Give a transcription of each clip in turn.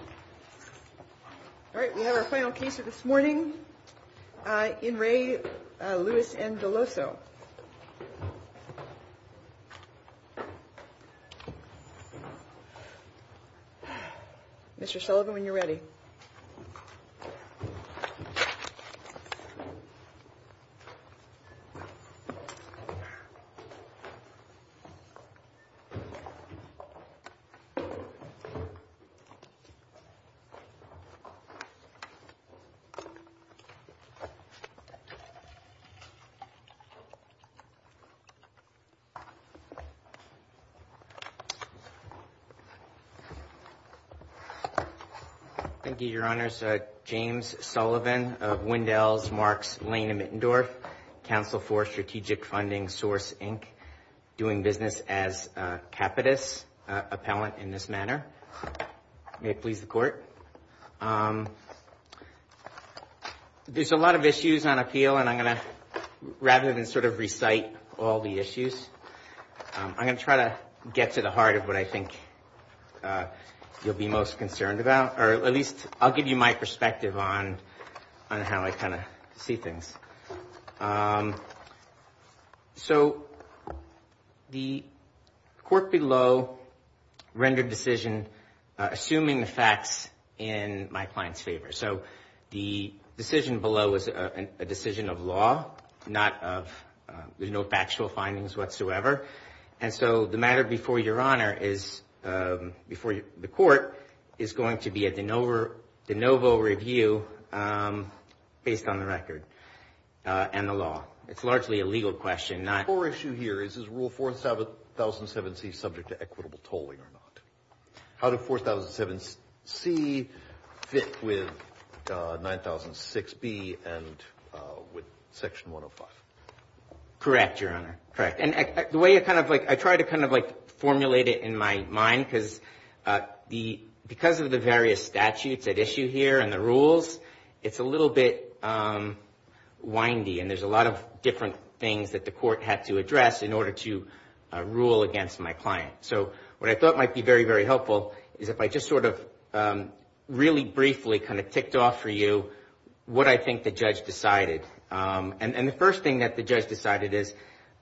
All right, we have our final case of this morning. Uh, in Ray Louis N. Deloso. Mr Sullivan, when you're ready. Thank you, Your Honor's James Sullivan of Wendell's Marks Lane and Mittendorf Council for Strategic Funding Source, Inc. Doing business as a capitalist appellant in this manner. May it please the court. There's a lot of issues on appeal and I'm going to, rather than sort of recite all the issues, I'm going to try to get to the heart of what I think you'll be most concerned about, or at least I'll give you my perspective on on how I kind of see things. Um, so the court below rendered decision, assuming the facts in my client's favor. So the decision below is a decision of law, not of, there's no factual findings whatsoever, and so the matter before Your Honor is, um, before the court is going to be a de novo review, um, based on the record. Uh, and the law, it's largely a legal question. Not for issue here is, is rule 4,007C subject to equitable tolling or not? How did 4,007C fit with, uh, 9006B and, uh, with section 105? Correct, Your Honor. Correct. And the way I kind of like, I try to kind of like formulate it in my mind because, uh, the, because of the various statutes at issue here and the rules, it's a little bit, um, windy and there's a lot of different things that the court had to address in order to, uh, rule against my client. So what I thought might be very, very helpful is if I just sort of, um, really briefly kind of ticked off for you what I think the judge decided. Um, and, and the first thing that the judge decided is,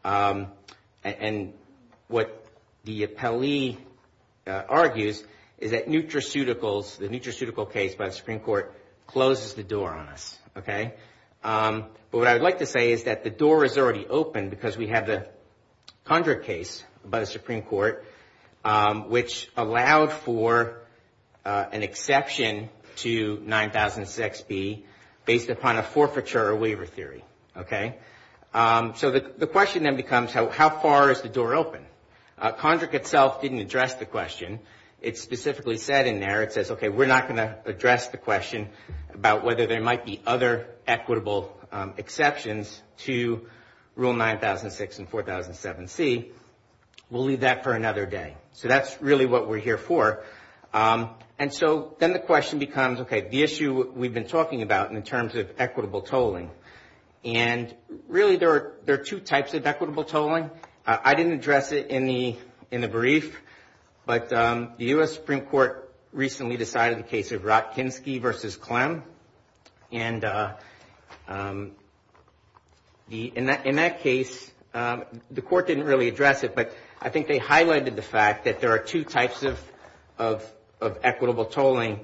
um, and what the appellee, uh, argues is that nutraceuticals, the nutraceutical case by the Supreme Court closes the door on us. Okay. Um, but what I would like to say is that the door is already open because we have the conjure case by the Supreme Court, um, which allowed for, uh, an exception to 9006B based upon a forfeiture. A waiver theory. Okay. Um, so the, the question then becomes how, how far is the door open? Uh, conjure itself didn't address the question. It specifically said in there, it says, okay, we're not going to address the question about whether there might be other equitable, um, exceptions to rule 9006 and 4007C. We'll leave that for another day. So that's really what we're here for. Um, and so then the question becomes, okay, the issue we've been talking about in terms of equitable tolling. And really there are, there are two types of equitable tolling. Uh, I didn't address it in the, in the brief, but, um, the U.S. Supreme Court recently decided the case of Ratkinski versus Clem. And, uh, um, the, in that, in that case, um, the court didn't really address it, but I think they highlighted the fact that there are two types of, of, of equitable tolling,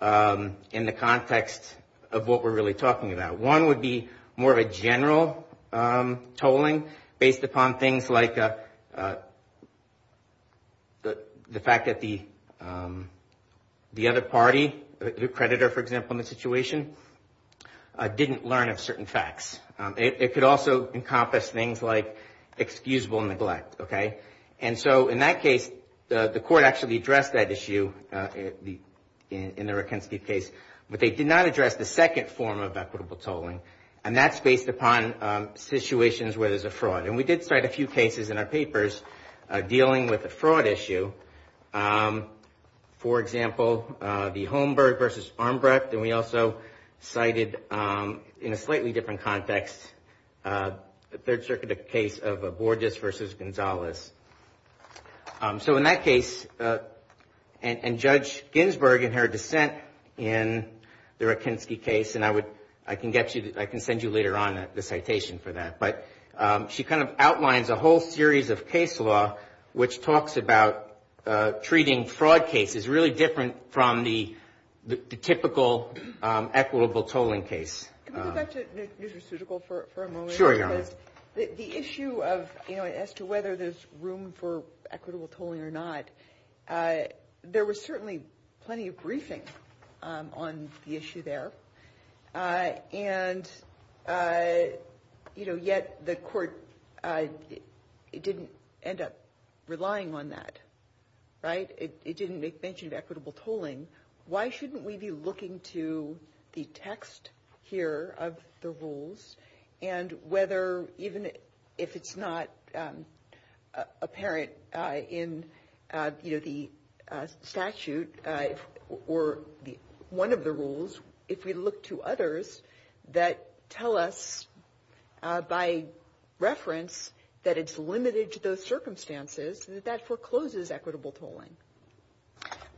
um, in the context of what we're really talking about. One would be more of a general, um, tolling based upon things like, uh, uh, the, the fact that the, um, the other party, the creditor, for example, in the situation, uh, didn't learn of certain facts. Um, it, it could also encompass things like excusable neglect. Okay. And so in that case, uh, the court actually addressed that issue, uh, in the, in the Ratkinski case, but they did not address the second form of equitable tolling. And that's based upon, um, situations where there's a fraud. And we did cite a few cases in our papers, uh, dealing with a fraud issue. Um, for example, uh, the Holmberg versus Armbrecht. And we also cited, um, in a slightly different context, uh, the Third Circuit case of, uh, Borges versus Gonzalez. Um, so in that case, uh, and, and Judge Ginsburg in her dissent in the Ratkinski case, and I would, I can get you, I can send you later on the citation for that. But, um, she kind of outlines a whole series of case law, which talks about, uh, treating fraud cases really different from the, the typical, um, equitable tolling case. Can we go back to New Jersutical for, for a moment? Sure, Your Honor. Because the, the issue of, you know, as to whether there's room for equitable tolling or not, uh, there was certainly plenty of briefing, um, on the issue there. Uh, and, uh, you know, yet the court, uh, it didn't end up relying on that, right? It, it didn't make mention of equitable tolling. Why shouldn't we be looking to the text here of the rules and whether, even if it's not, um, uh, apparent, uh, in, uh, you know, the, uh, statute, uh, or the, one of the rules. If we look to others that tell us, uh, by reference that it's limited to those circumstances, that that forecloses equitable tolling.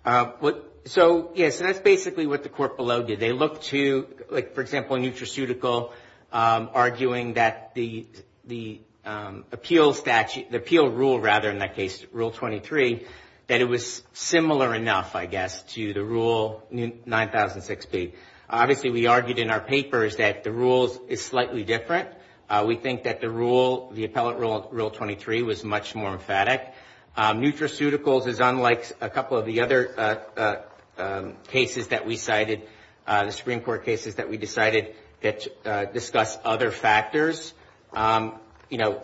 Uh, what, so, yes, and that's basically what the court below did. They looked to, like, for example, New Jersutical, um, arguing that the, the, um, appeal statute, the appeal rule, rather, in that case, Rule 23, that it was similar enough, I guess, to the Rule 9006B. Obviously, we argued in our papers that the rules is slightly different. Uh, we think that the rule, the appellate rule, Rule 23, was much more emphatic. Um, New Jersuticals is unlike a couple of the other, uh, uh, um, cases that we cited, uh, the Supreme Court cases that we decided that, uh, discuss other factors. Um, you know,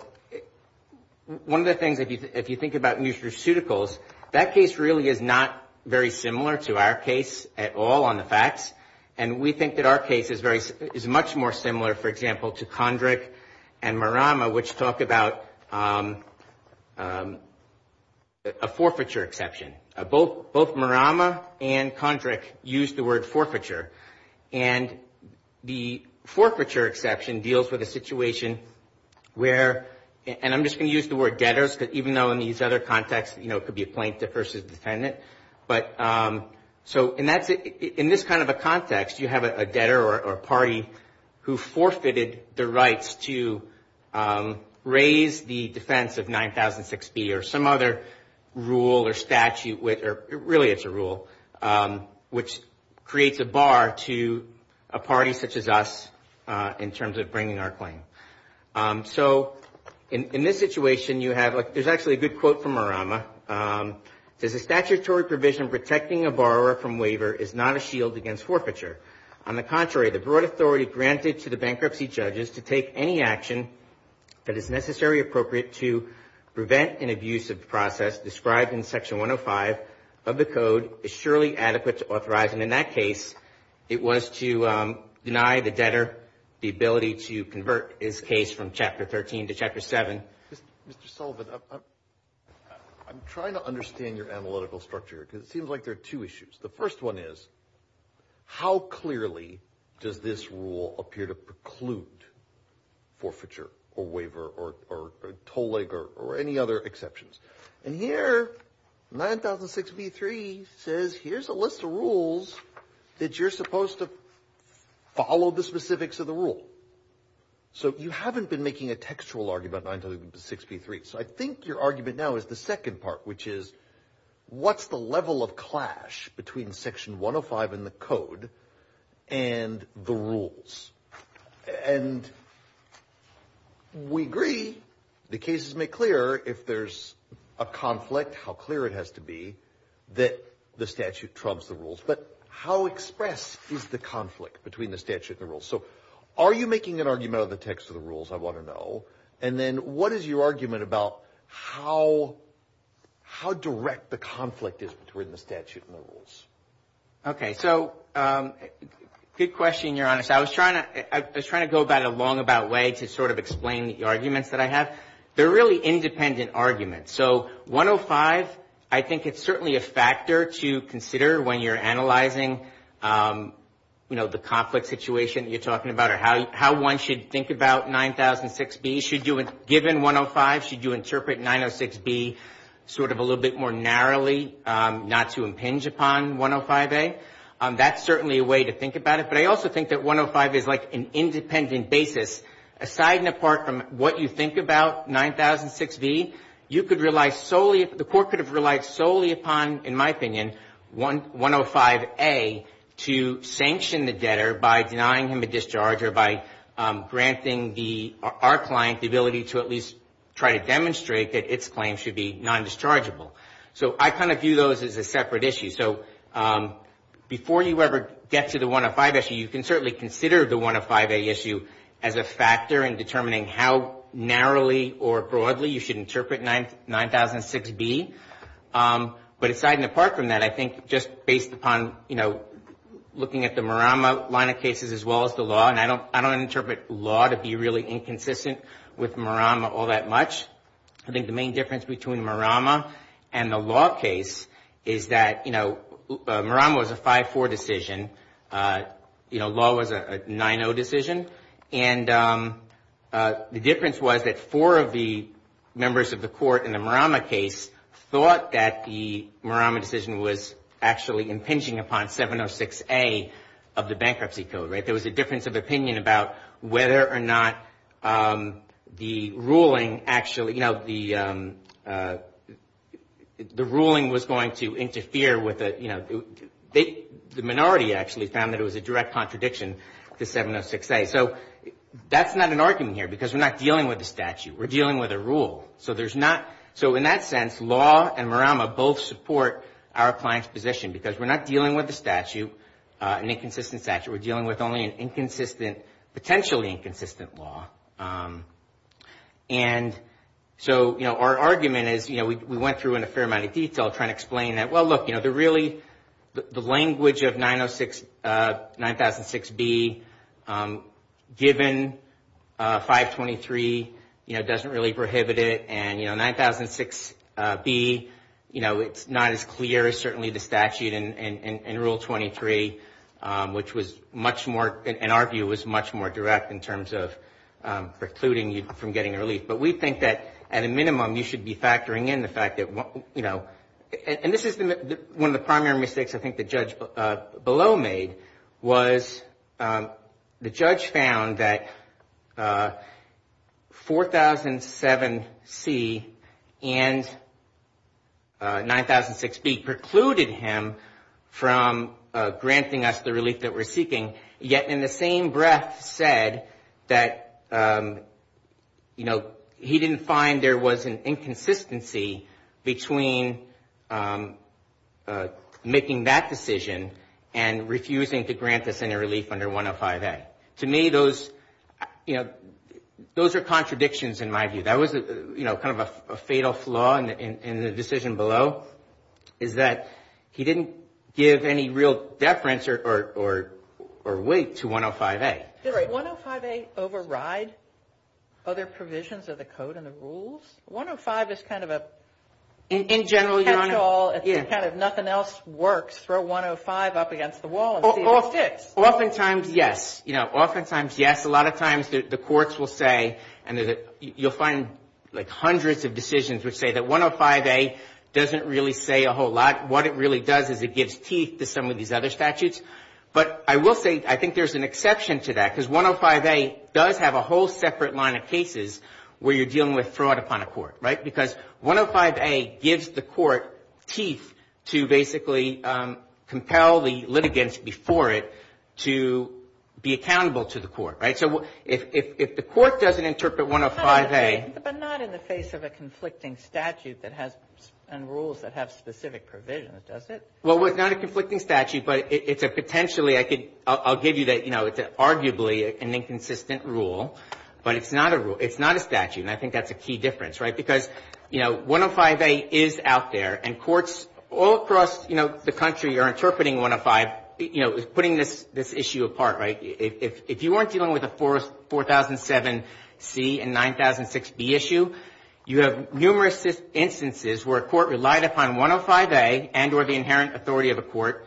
one of the things, if you, if you think about New Jersuticals, that case really is not very similar to our case at all on the facts. And we think that our case is very, is much more similar, for example, to Condrick and Marama, which talk about, um, um, a forfeiture exception. Uh, both, both Marama and Condrick used the word forfeiture. And the forfeiture exception deals with a situation where, and I'm just going to use the word debtors, because even though in these other contexts, you know, it could be a plaintiff versus defendant. But, um, so, and that's, in this kind of a context, you have a debtor or a party who forfeited the rights to, um, raise the defense of 9006B or some other rule or statute with, or really it's a rule, um, which creates a bar to a party such as us, uh, in terms of bringing our claim. Um, so, in, in this situation, you have, like, there's actually a good quote from Marama, um, it says, a statutory provision protecting a borrower from waiver is not a shield against forfeiture. On the contrary, the broad authority granted to the bankruptcy judges to take any action that is necessarily appropriate to prevent an abusive process described in Section 105 of the Code is surely adequate to authorize. And in that case, it was to, um, deny the debtor the ability to convert his case from Chapter 13 to Chapter 7. Mr. Sullivan, I'm, I'm trying to understand your analytical structure here, because it seems like there are two issues. The first one is, how clearly does this rule appear to preclude forfeiture or waiver or, or, or toll leg or, or any other exceptions? And here, 9006B3 says, here's a list of rules that you're supposed to follow the specifics of the rule. So, you haven't been making a textual argument, 9006B3, so I think your argument now is the second part, which is, what's the level of clash between Section 105 in the Code and the rules? And we agree, the cases make clear if there's a conflict, how clear it has to be that the statute trumps the rules. But how express is the conflict between the statute and the rules? So, are you making an argument of the text of the rules? I want to know. And then what is your argument about how, how direct the conflict is between the statute and the rules? Okay. So, um, good question. You're honest. I was trying to, I was trying to go about it a long about way to sort of explain the arguments that I have. They're really independent arguments. So, 105, I think it's certainly a factor to consider when you're analyzing, you know, the conflict situation that you're talking about or how, how one should think about 9006B. Should you, given 105, should you interpret 906B sort of a little bit more narrowly, not to impinge upon 105A? That's certainly a way to think about it. But I also think that 105 is like an independent basis, aside and apart from what you think about 9006B, you could rely solely, the court could have relied solely upon, in my opinion, 105A to sanction the debtor by denying him a discharge or by granting the, our client the ability to at least try to demonstrate that its claim should be non-dischargeable. So, I kind of view those as a separate issue. So, before you ever get to the 105 issue, you can certainly consider the 105A issue as a factor in determining how narrowly or broadly you should interpret 9006B. But aside and apart from that, I think just based upon, you know, looking at the Marama line of cases as well as the law, and I don't, I don't interpret law to be really inconsistent with Marama all that much. I think the main difference between Marama and the law case is that, you know, Marama was a 5-4 decision. You know, law was a 9-0 decision. And the difference was that four of the members of the court in the Marama case thought that the Marama decision was actually impinging upon 706A of the bankruptcy code, right? There was a difference of opinion about whether or not the ruling actually, you know, the ruling was going to interfere with the, you know, the minority actually found that it was a direct contradiction to 706A. So, that's not an argument here because we're not dealing with a statute. We're dealing with a rule. So, there's not, so in that sense, law and Marama both support our client's position because we're not dealing with a statute, an inconsistent statute. We're dealing with only an inconsistent, potentially inconsistent law. And so, you know, our argument is, you know, we went through in a fair amount of detail trying to explain that, well, look, you know, they're really, the language of 906B given 523, you know, doesn't really prohibit it. And, you know, 906B, you know, it's not as clear as certainly the statute in Rule 23, which was much more, in our view, was much more direct in terms of precluding you from getting relief. But we think that, at a minimum, you should be factoring in the fact that, you know, and this is one of the primary mistakes I think the judge below made was the judge found that 4007C and 9006B precluded him from granting us the relief that we're seeking, yet in the same breath said that, you know, he didn't find there was an inconsistency between making that decision and refusing to grant us any relief under 105A. To me, those, you know, those are contradictions in my view. That was, you know, kind of a fatal flaw in the decision below is that he didn't give any real deference or weight to 105A. Did 105A override other provisions of the code and the rules? 105 is kind of a cat's call, it's kind of nothing else works. Throw 105 up against the wall and see if it sticks. Oftentimes, yes. You know, oftentimes, yes. A lot of times the courts will say, and you'll find like hundreds of decisions which say that 105A doesn't really say a whole lot. What it really does is it gives teeth to some of these other statutes. But I will say I think there's an exception to that because 105A does have a whole separate line of cases where you're dealing with fraud upon a court, right? Because 105A gives the court teeth to basically compel the litigants before it to be accountable to the court, right? So if the court doesn't interpret 105A. But not in the face of a conflicting statute that has and rules that have specific provisions, does it? Well, it's not a conflicting statute, but it's a potentially, I'll give you that, you know, it's arguably an inconsistent rule. But it's not a rule. It's not a statute. And I think that's a key difference, right? Because, you know, 105A is out there and courts all across, you know, the country are interpreting 105, you know, putting this issue apart, right? If you weren't dealing with a 4007C and 9006B issue, you have numerous instances where a court relied upon 105A and or the inherent authority of a court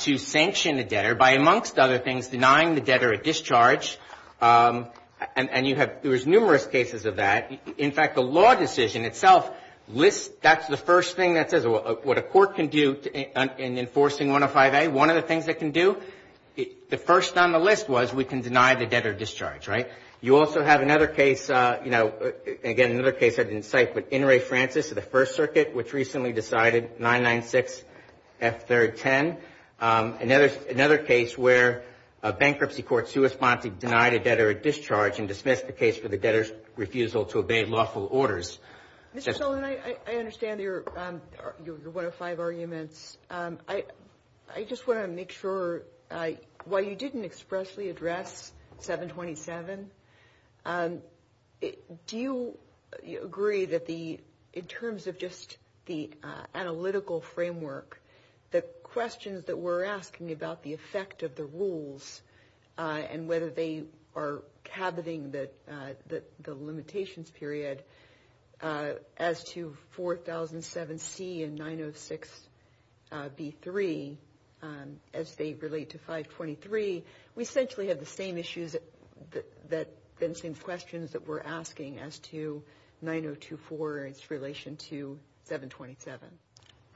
to sanction a debtor by, amongst other things, denying the debtor a discharge. And you have, there's numerous cases of that. In fact, the law decision itself lists, that's the first thing that says what a court can do in enforcing 105A. One of the things it can do, the first on the list was we can deny the debtor discharge, right? You also have another case, you know, again, another case I didn't cite, but Inouye-Francis of the First Circuit, which recently decided 996F310. Another case where a bankruptcy court suesponse denied a debtor a discharge and dismissed the case for the debtor's refusal to obey lawful orders. Mr. Sullivan, I understand your 105 arguments. I just want to make sure, while you didn't expressly address 727, do you agree that the, in terms of just the analytical framework, the questions that we're asking about the effect of the rules and whether they are caboting the limitations period as to 4007C and 906B3, as they relate to 523, we essentially have the same issues that, the same questions that we're asking as to 9024 in relation to 727.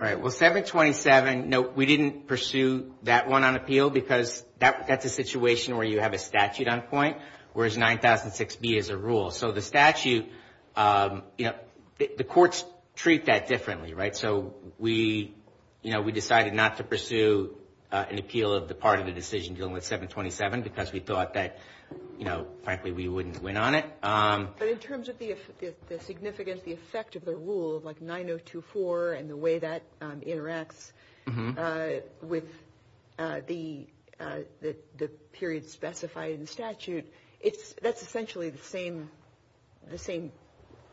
All right, well, 727, no, we didn't pursue that one on appeal because that's a situation where you have a statute on point, whereas 9006B is a rule. So the statute, you know, the courts treat that differently, right? So we, you know, we decided not to pursue an appeal of the part of the decision dealing with 727 because we thought that, you know, frankly, we wouldn't win on it. But in terms of the significance, the effect of the rule, like 9024 and the way that interacts with the period specified in the statute, that's essentially the same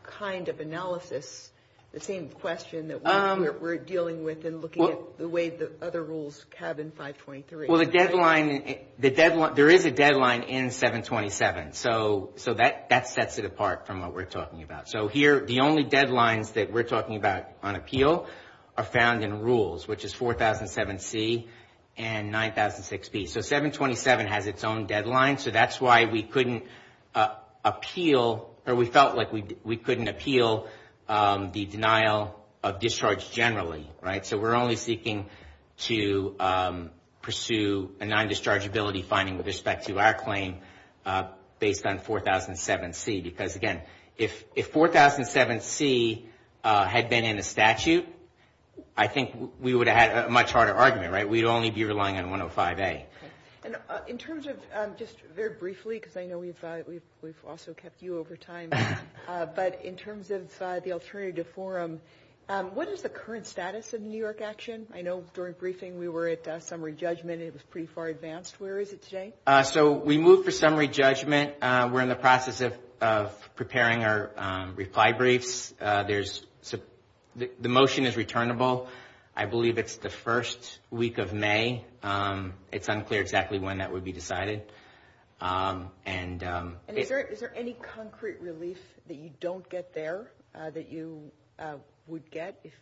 kind of analysis, the same question that we're dealing with and looking at the way the other rules have in 523. Well, the deadline, the deadline, there is a deadline in 727. So that sets it apart from what we're talking about. So here, the only deadlines that we're talking about on appeal are found in rules, which is 4007C and 9006B. So 727 has its own deadline. So that's why we couldn't appeal or we felt like we couldn't appeal the denial of discharge generally, right? So we're only seeking to pursue a non-dischargeability finding with respect to our claim based on 4007C. Because again, if 4007C had been in a statute, I think we would have had a much harder argument, right? We'd only be relying on 105A. And in terms of just very briefly, because I know we've also kept you over time, but in terms of the alternative forum, what is the current status of the New York action? I know during briefing, we were at summary judgment. It was pretty far advanced. Where is it today? So we moved for summary judgment. We're in the process of preparing our reply briefs. There's the motion is returnable. I believe it's the first week of May. It's unclear exactly when that would be decided. And is there any concrete relief that you don't get there that you would get if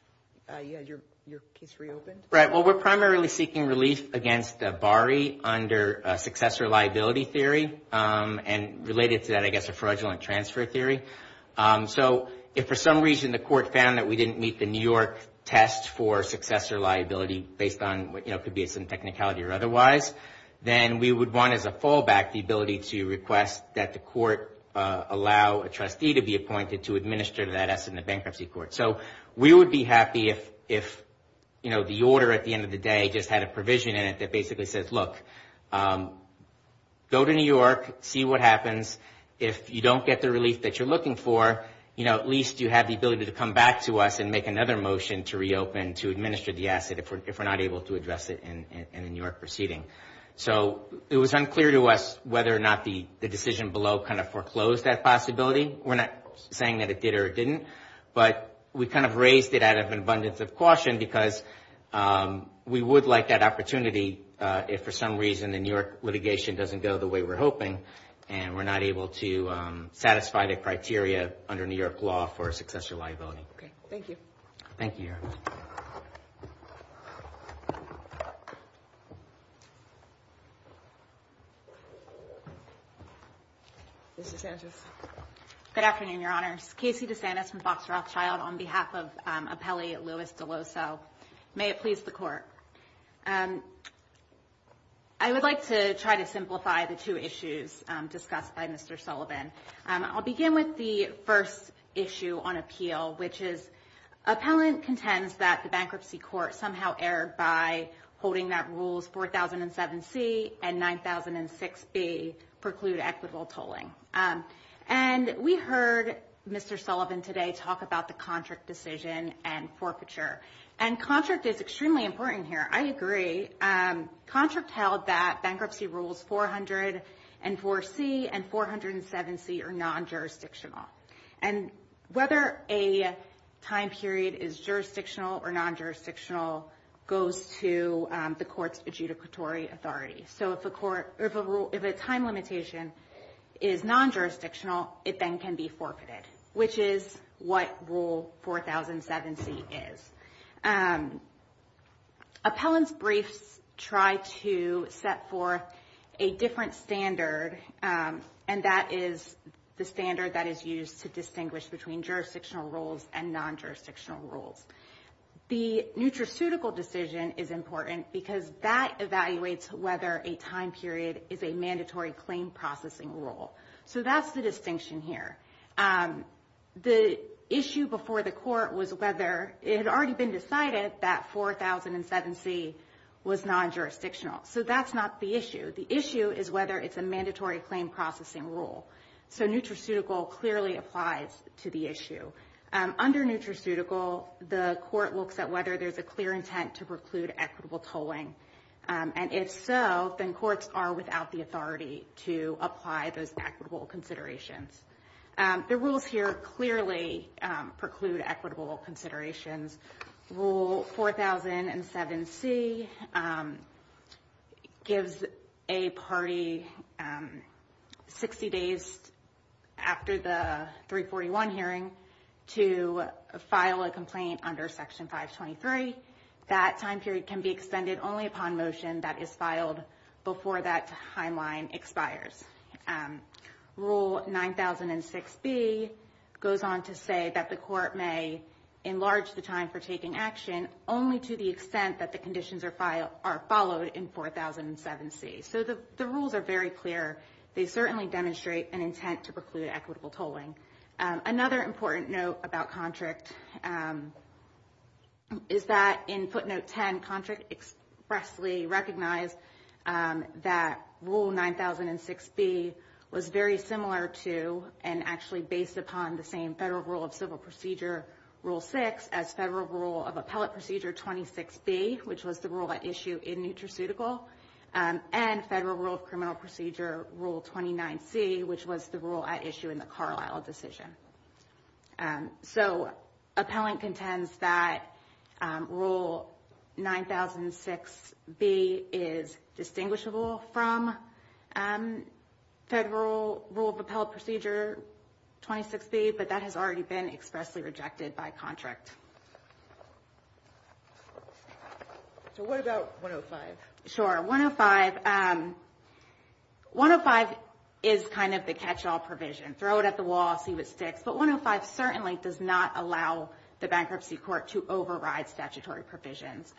your case reopened? Right. Well, we're primarily seeking relief against BARI under successor liability theory and related to that, I guess, a fraudulent transfer theory. So if for some reason the court found that we didn't meet the New York test for successor liability based on what could be some technicality or otherwise, then we would want as a fallback the ability to request that the court allow a trustee to be appointed to administer that asset in the bankruptcy court. So we would be happy if, you know, the order at the end of the day just had a provision in it that basically says, look, go to New York, see what happens. If you don't get the relief that you're looking for, you know, at least you have the ability to come back to us and make another motion to reopen, to administer the asset if we're not able to address it in a New York proceeding. So it was unclear to us whether or not the decision below kind of foreclosed that possibility. We're not saying that it did or it didn't. But we kind of raised it out of an abundance of caution because we would like that opportunity if for some reason the New York litigation doesn't go the way we're hoping. And we're not able to satisfy the criteria under New York law for a successor liability. Okay. Thank you. Thank you. Mr. Sanchez. Good afternoon, Your Honors. Casey DeSantis from Fox Rothschild on behalf of Appellee Louis DeLoso. May it please the court. I would like to try to simplify the two issues discussed by Mr. Sullivan. I'll begin with the first issue on appeal, which is appellant contends that the bankruptcy court somehow erred by holding that rules 4007C and 9006B preclude equitable tolling. And we heard Mr. Sullivan today talk about the contract decision and forfeiture. And contract is extremely important here. I agree. Contract held that bankruptcy rules 400 and 4C and 407C are non-jurisdictional. And whether a time period is jurisdictional or non-jurisdictional goes to the court's adjudicatory authority. So if a time limitation is non-jurisdictional, it then can be forfeited, which is what rule 4007C is. Appellant's briefs try to set forth a different standard. And that is the standard that is used to distinguish between jurisdictional rules and non-jurisdictional rules. The nutraceutical decision is important because that evaluates whether a time period is a mandatory claim processing rule. So that's the distinction here. The issue before the court was whether it had already been decided that 4007C was non-jurisdictional. So that's not the issue. The issue is whether it's a mandatory claim processing rule. So nutraceutical clearly applies to the issue. Under nutraceutical, the court looks at whether there's a clear intent to preclude equitable tolling. And if so, then courts are without the authority to apply those equitable considerations. The rules here clearly preclude equitable considerations. Rule 4007C gives a party 60 days after the 341 hearing to file a complaint under Section 523. That time period can be extended only upon motion that is filed before that timeline expires. Rule 9006B goes on to say that the court may enlarge the time for taking action only to the extent that the conditions are followed in 4007C. So the rules are very clear. They certainly demonstrate an intent to preclude equitable tolling. Another important note about contract is that in footnote 10, contract expressly recognized that Rule 9006B was very similar to and actually based upon the same Federal Rule of Civil Procedure Rule 6 as Federal Rule of Appellate Procedure 26B, which was the rule at issue in nutraceutical, and Federal Rule of Criminal Procedure Rule 29C, which was the rule at issue in the Carlisle decision. And so appellant contends that Rule 9006B is distinguishable from Federal Rule of Appellate Procedure 26B, but that has already been expressly rejected by contract. So what about 105? Sure, 105. 105 is kind of the catch-all provision. Throw it at the wall, see what sticks. But 105 certainly does not allow the bankruptcy court to override statutory provisions.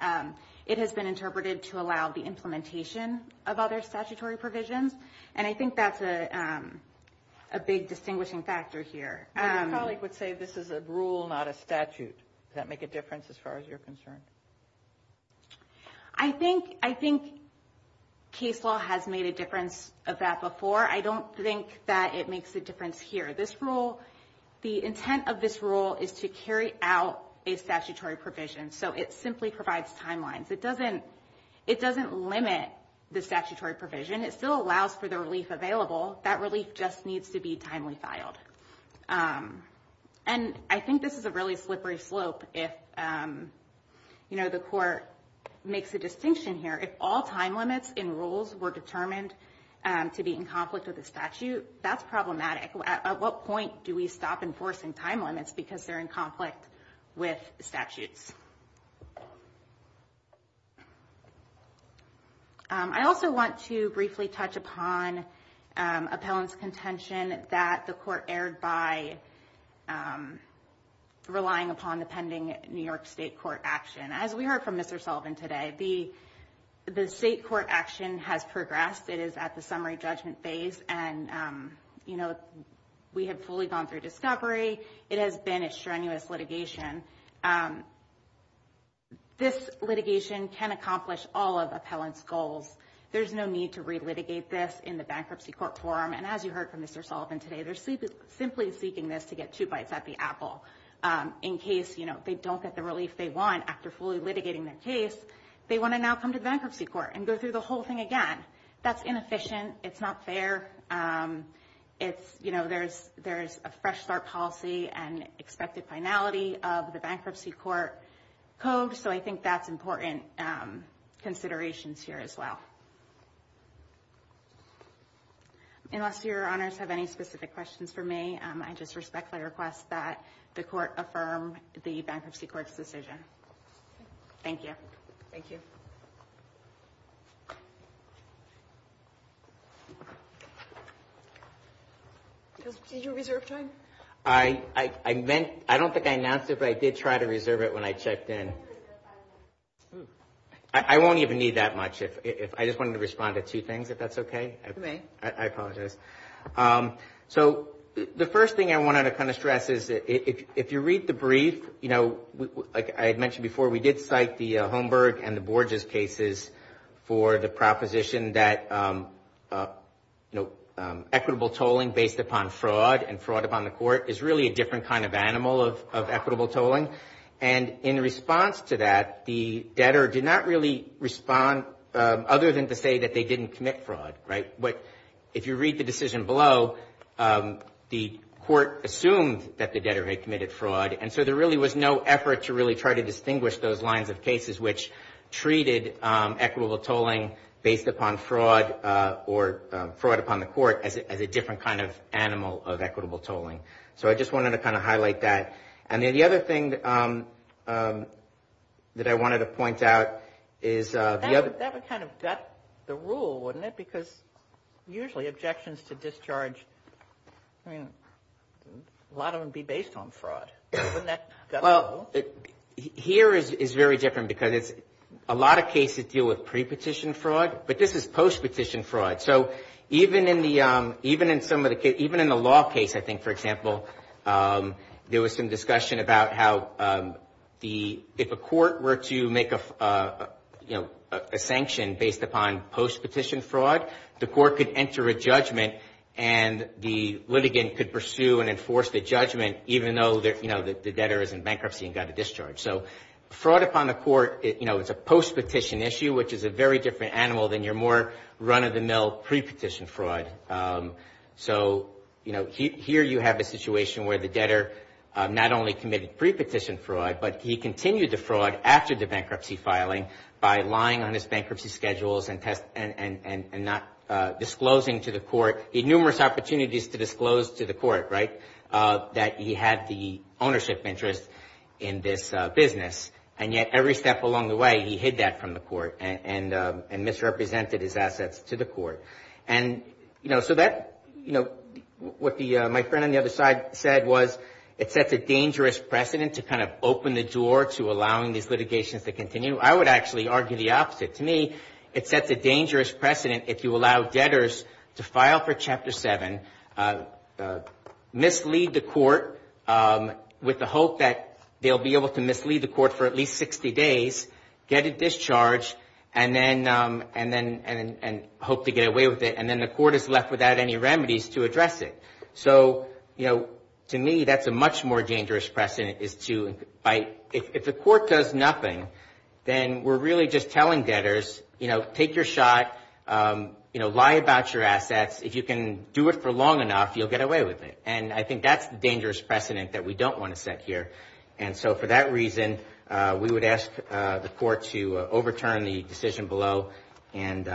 It has been interpreted to allow the implementation of other statutory provisions. And I think that's a big distinguishing factor here. My colleague would say this is a rule, not a statute. Does that make a difference as far as you're concerned? I think case law has made a difference of that before. I don't think that it makes a difference here. The intent of this rule is to carry out a statutory provision. So it simply provides timelines. It doesn't limit the statutory provision. It still allows for the relief available. That relief just needs to be timely filed. And I think this is a really slippery slope if the court makes a distinction here. If all time limits in rules were determined to be in conflict with a statute, that's problematic. At what point do we stop enforcing time limits because they're in conflict with statutes? I also want to briefly touch upon appellant's contention that the court erred by relying upon the pending New York State court action. As we heard from Mr. Sullivan today, the state court action has progressed. It is at the summary judgment phase and we have fully gone through discovery. It has been a strenuous litigation. This litigation can accomplish all of appellant's goals. There's no need to relitigate this in the bankruptcy court forum. And as you heard from Mr. Sullivan today, they're simply seeking this to get two bites at the apple in case they don't get the relief they want after fully litigating their case. They want to now come to the bankruptcy court and go through the whole thing again. That's inefficient. It's not fair. There's a fresh start policy and expected finality of the bankruptcy court code. So I think that's important considerations here as well. Unless your honors have any specific questions for me, I just respectfully request that the court affirm the bankruptcy court's decision. Thank you. Thank you. You reserved time? I don't think I announced it, but I did try to reserve it when I checked in. I won't even need that much. I just wanted to respond to two things, if that's okay. I apologize. So the first thing I wanted to kind of stress is if you read the brief, you know, like I had mentioned before, we did cite the Holmberg and the Borges cases for the proposition that, you know, equitable tolling based upon fraud and fraud upon the court is really a different kind of animal of equitable tolling. And in response to that, the debtor did not really respond other than to say that they didn't commit fraud, right? If you read the decision below, the court assumed that the debtor had committed fraud. And so there really was no effort to really try to distinguish those lines of cases which treated equitable tolling based upon fraud or fraud upon the court as a different kind of animal of equitable tolling. So I just wanted to kind of highlight that. And then the other thing that I wanted to point out is the other- Usually objections to discharge, I mean, a lot of them would be based on fraud. Well, here is very different because it's a lot of cases deal with pre-petition fraud, but this is post-petition fraud. So even in the law case, I think, for example, there was some discussion about how if a court were to make a, you know, a sanction based upon post-petition fraud, the court could enter a judgment and the litigant could pursue and enforce the judgment even though, you know, the debtor is in bankruptcy and got a discharge. So fraud upon the court, you know, it's a post-petition issue which is a very different animal than your more run-of-the-mill pre-petition fraud. So, you know, here you have a situation where the debtor not only committed pre-petition fraud, but he continued the fraud after the bankruptcy filing by lying on his bankruptcy schedules and not disclosing to the court, numerous opportunities to disclose to the court, right, that he had the ownership interest in this business. And yet every step along the way, he hid that from the court and misrepresented his assets to the court. And, you know, so that, you know, what my friend on the other side said was it sets a dangerous precedent to kind of open the door to allowing these litigations to continue. I would actually argue the opposite. To me, it sets a dangerous precedent if you allow debtors to file for Chapter 7, mislead the court with the hope that they'll be able to mislead the court for at least 60 days, get a discharge, and then hope to get away with it. And then the court is left without any remedies to address it. So, you know, to me, that's a much more dangerous precedent is to, if the court does nothing, then we're really just telling debtors, you know, take your shot, you know, lie about your assets. If you can do it for long enough, you'll get away with it. And I think that's the dangerous precedent that we don't want to set here. And so for that reason, we would ask the court to overturn the decision below and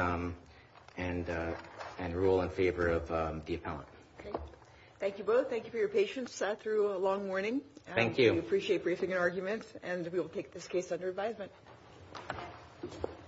rule in favor of the appellant. Thank you both. Thank you for your patience through a long morning. Thank you. Thank you. We appreciate briefing and arguments, and we will take this case under advisement.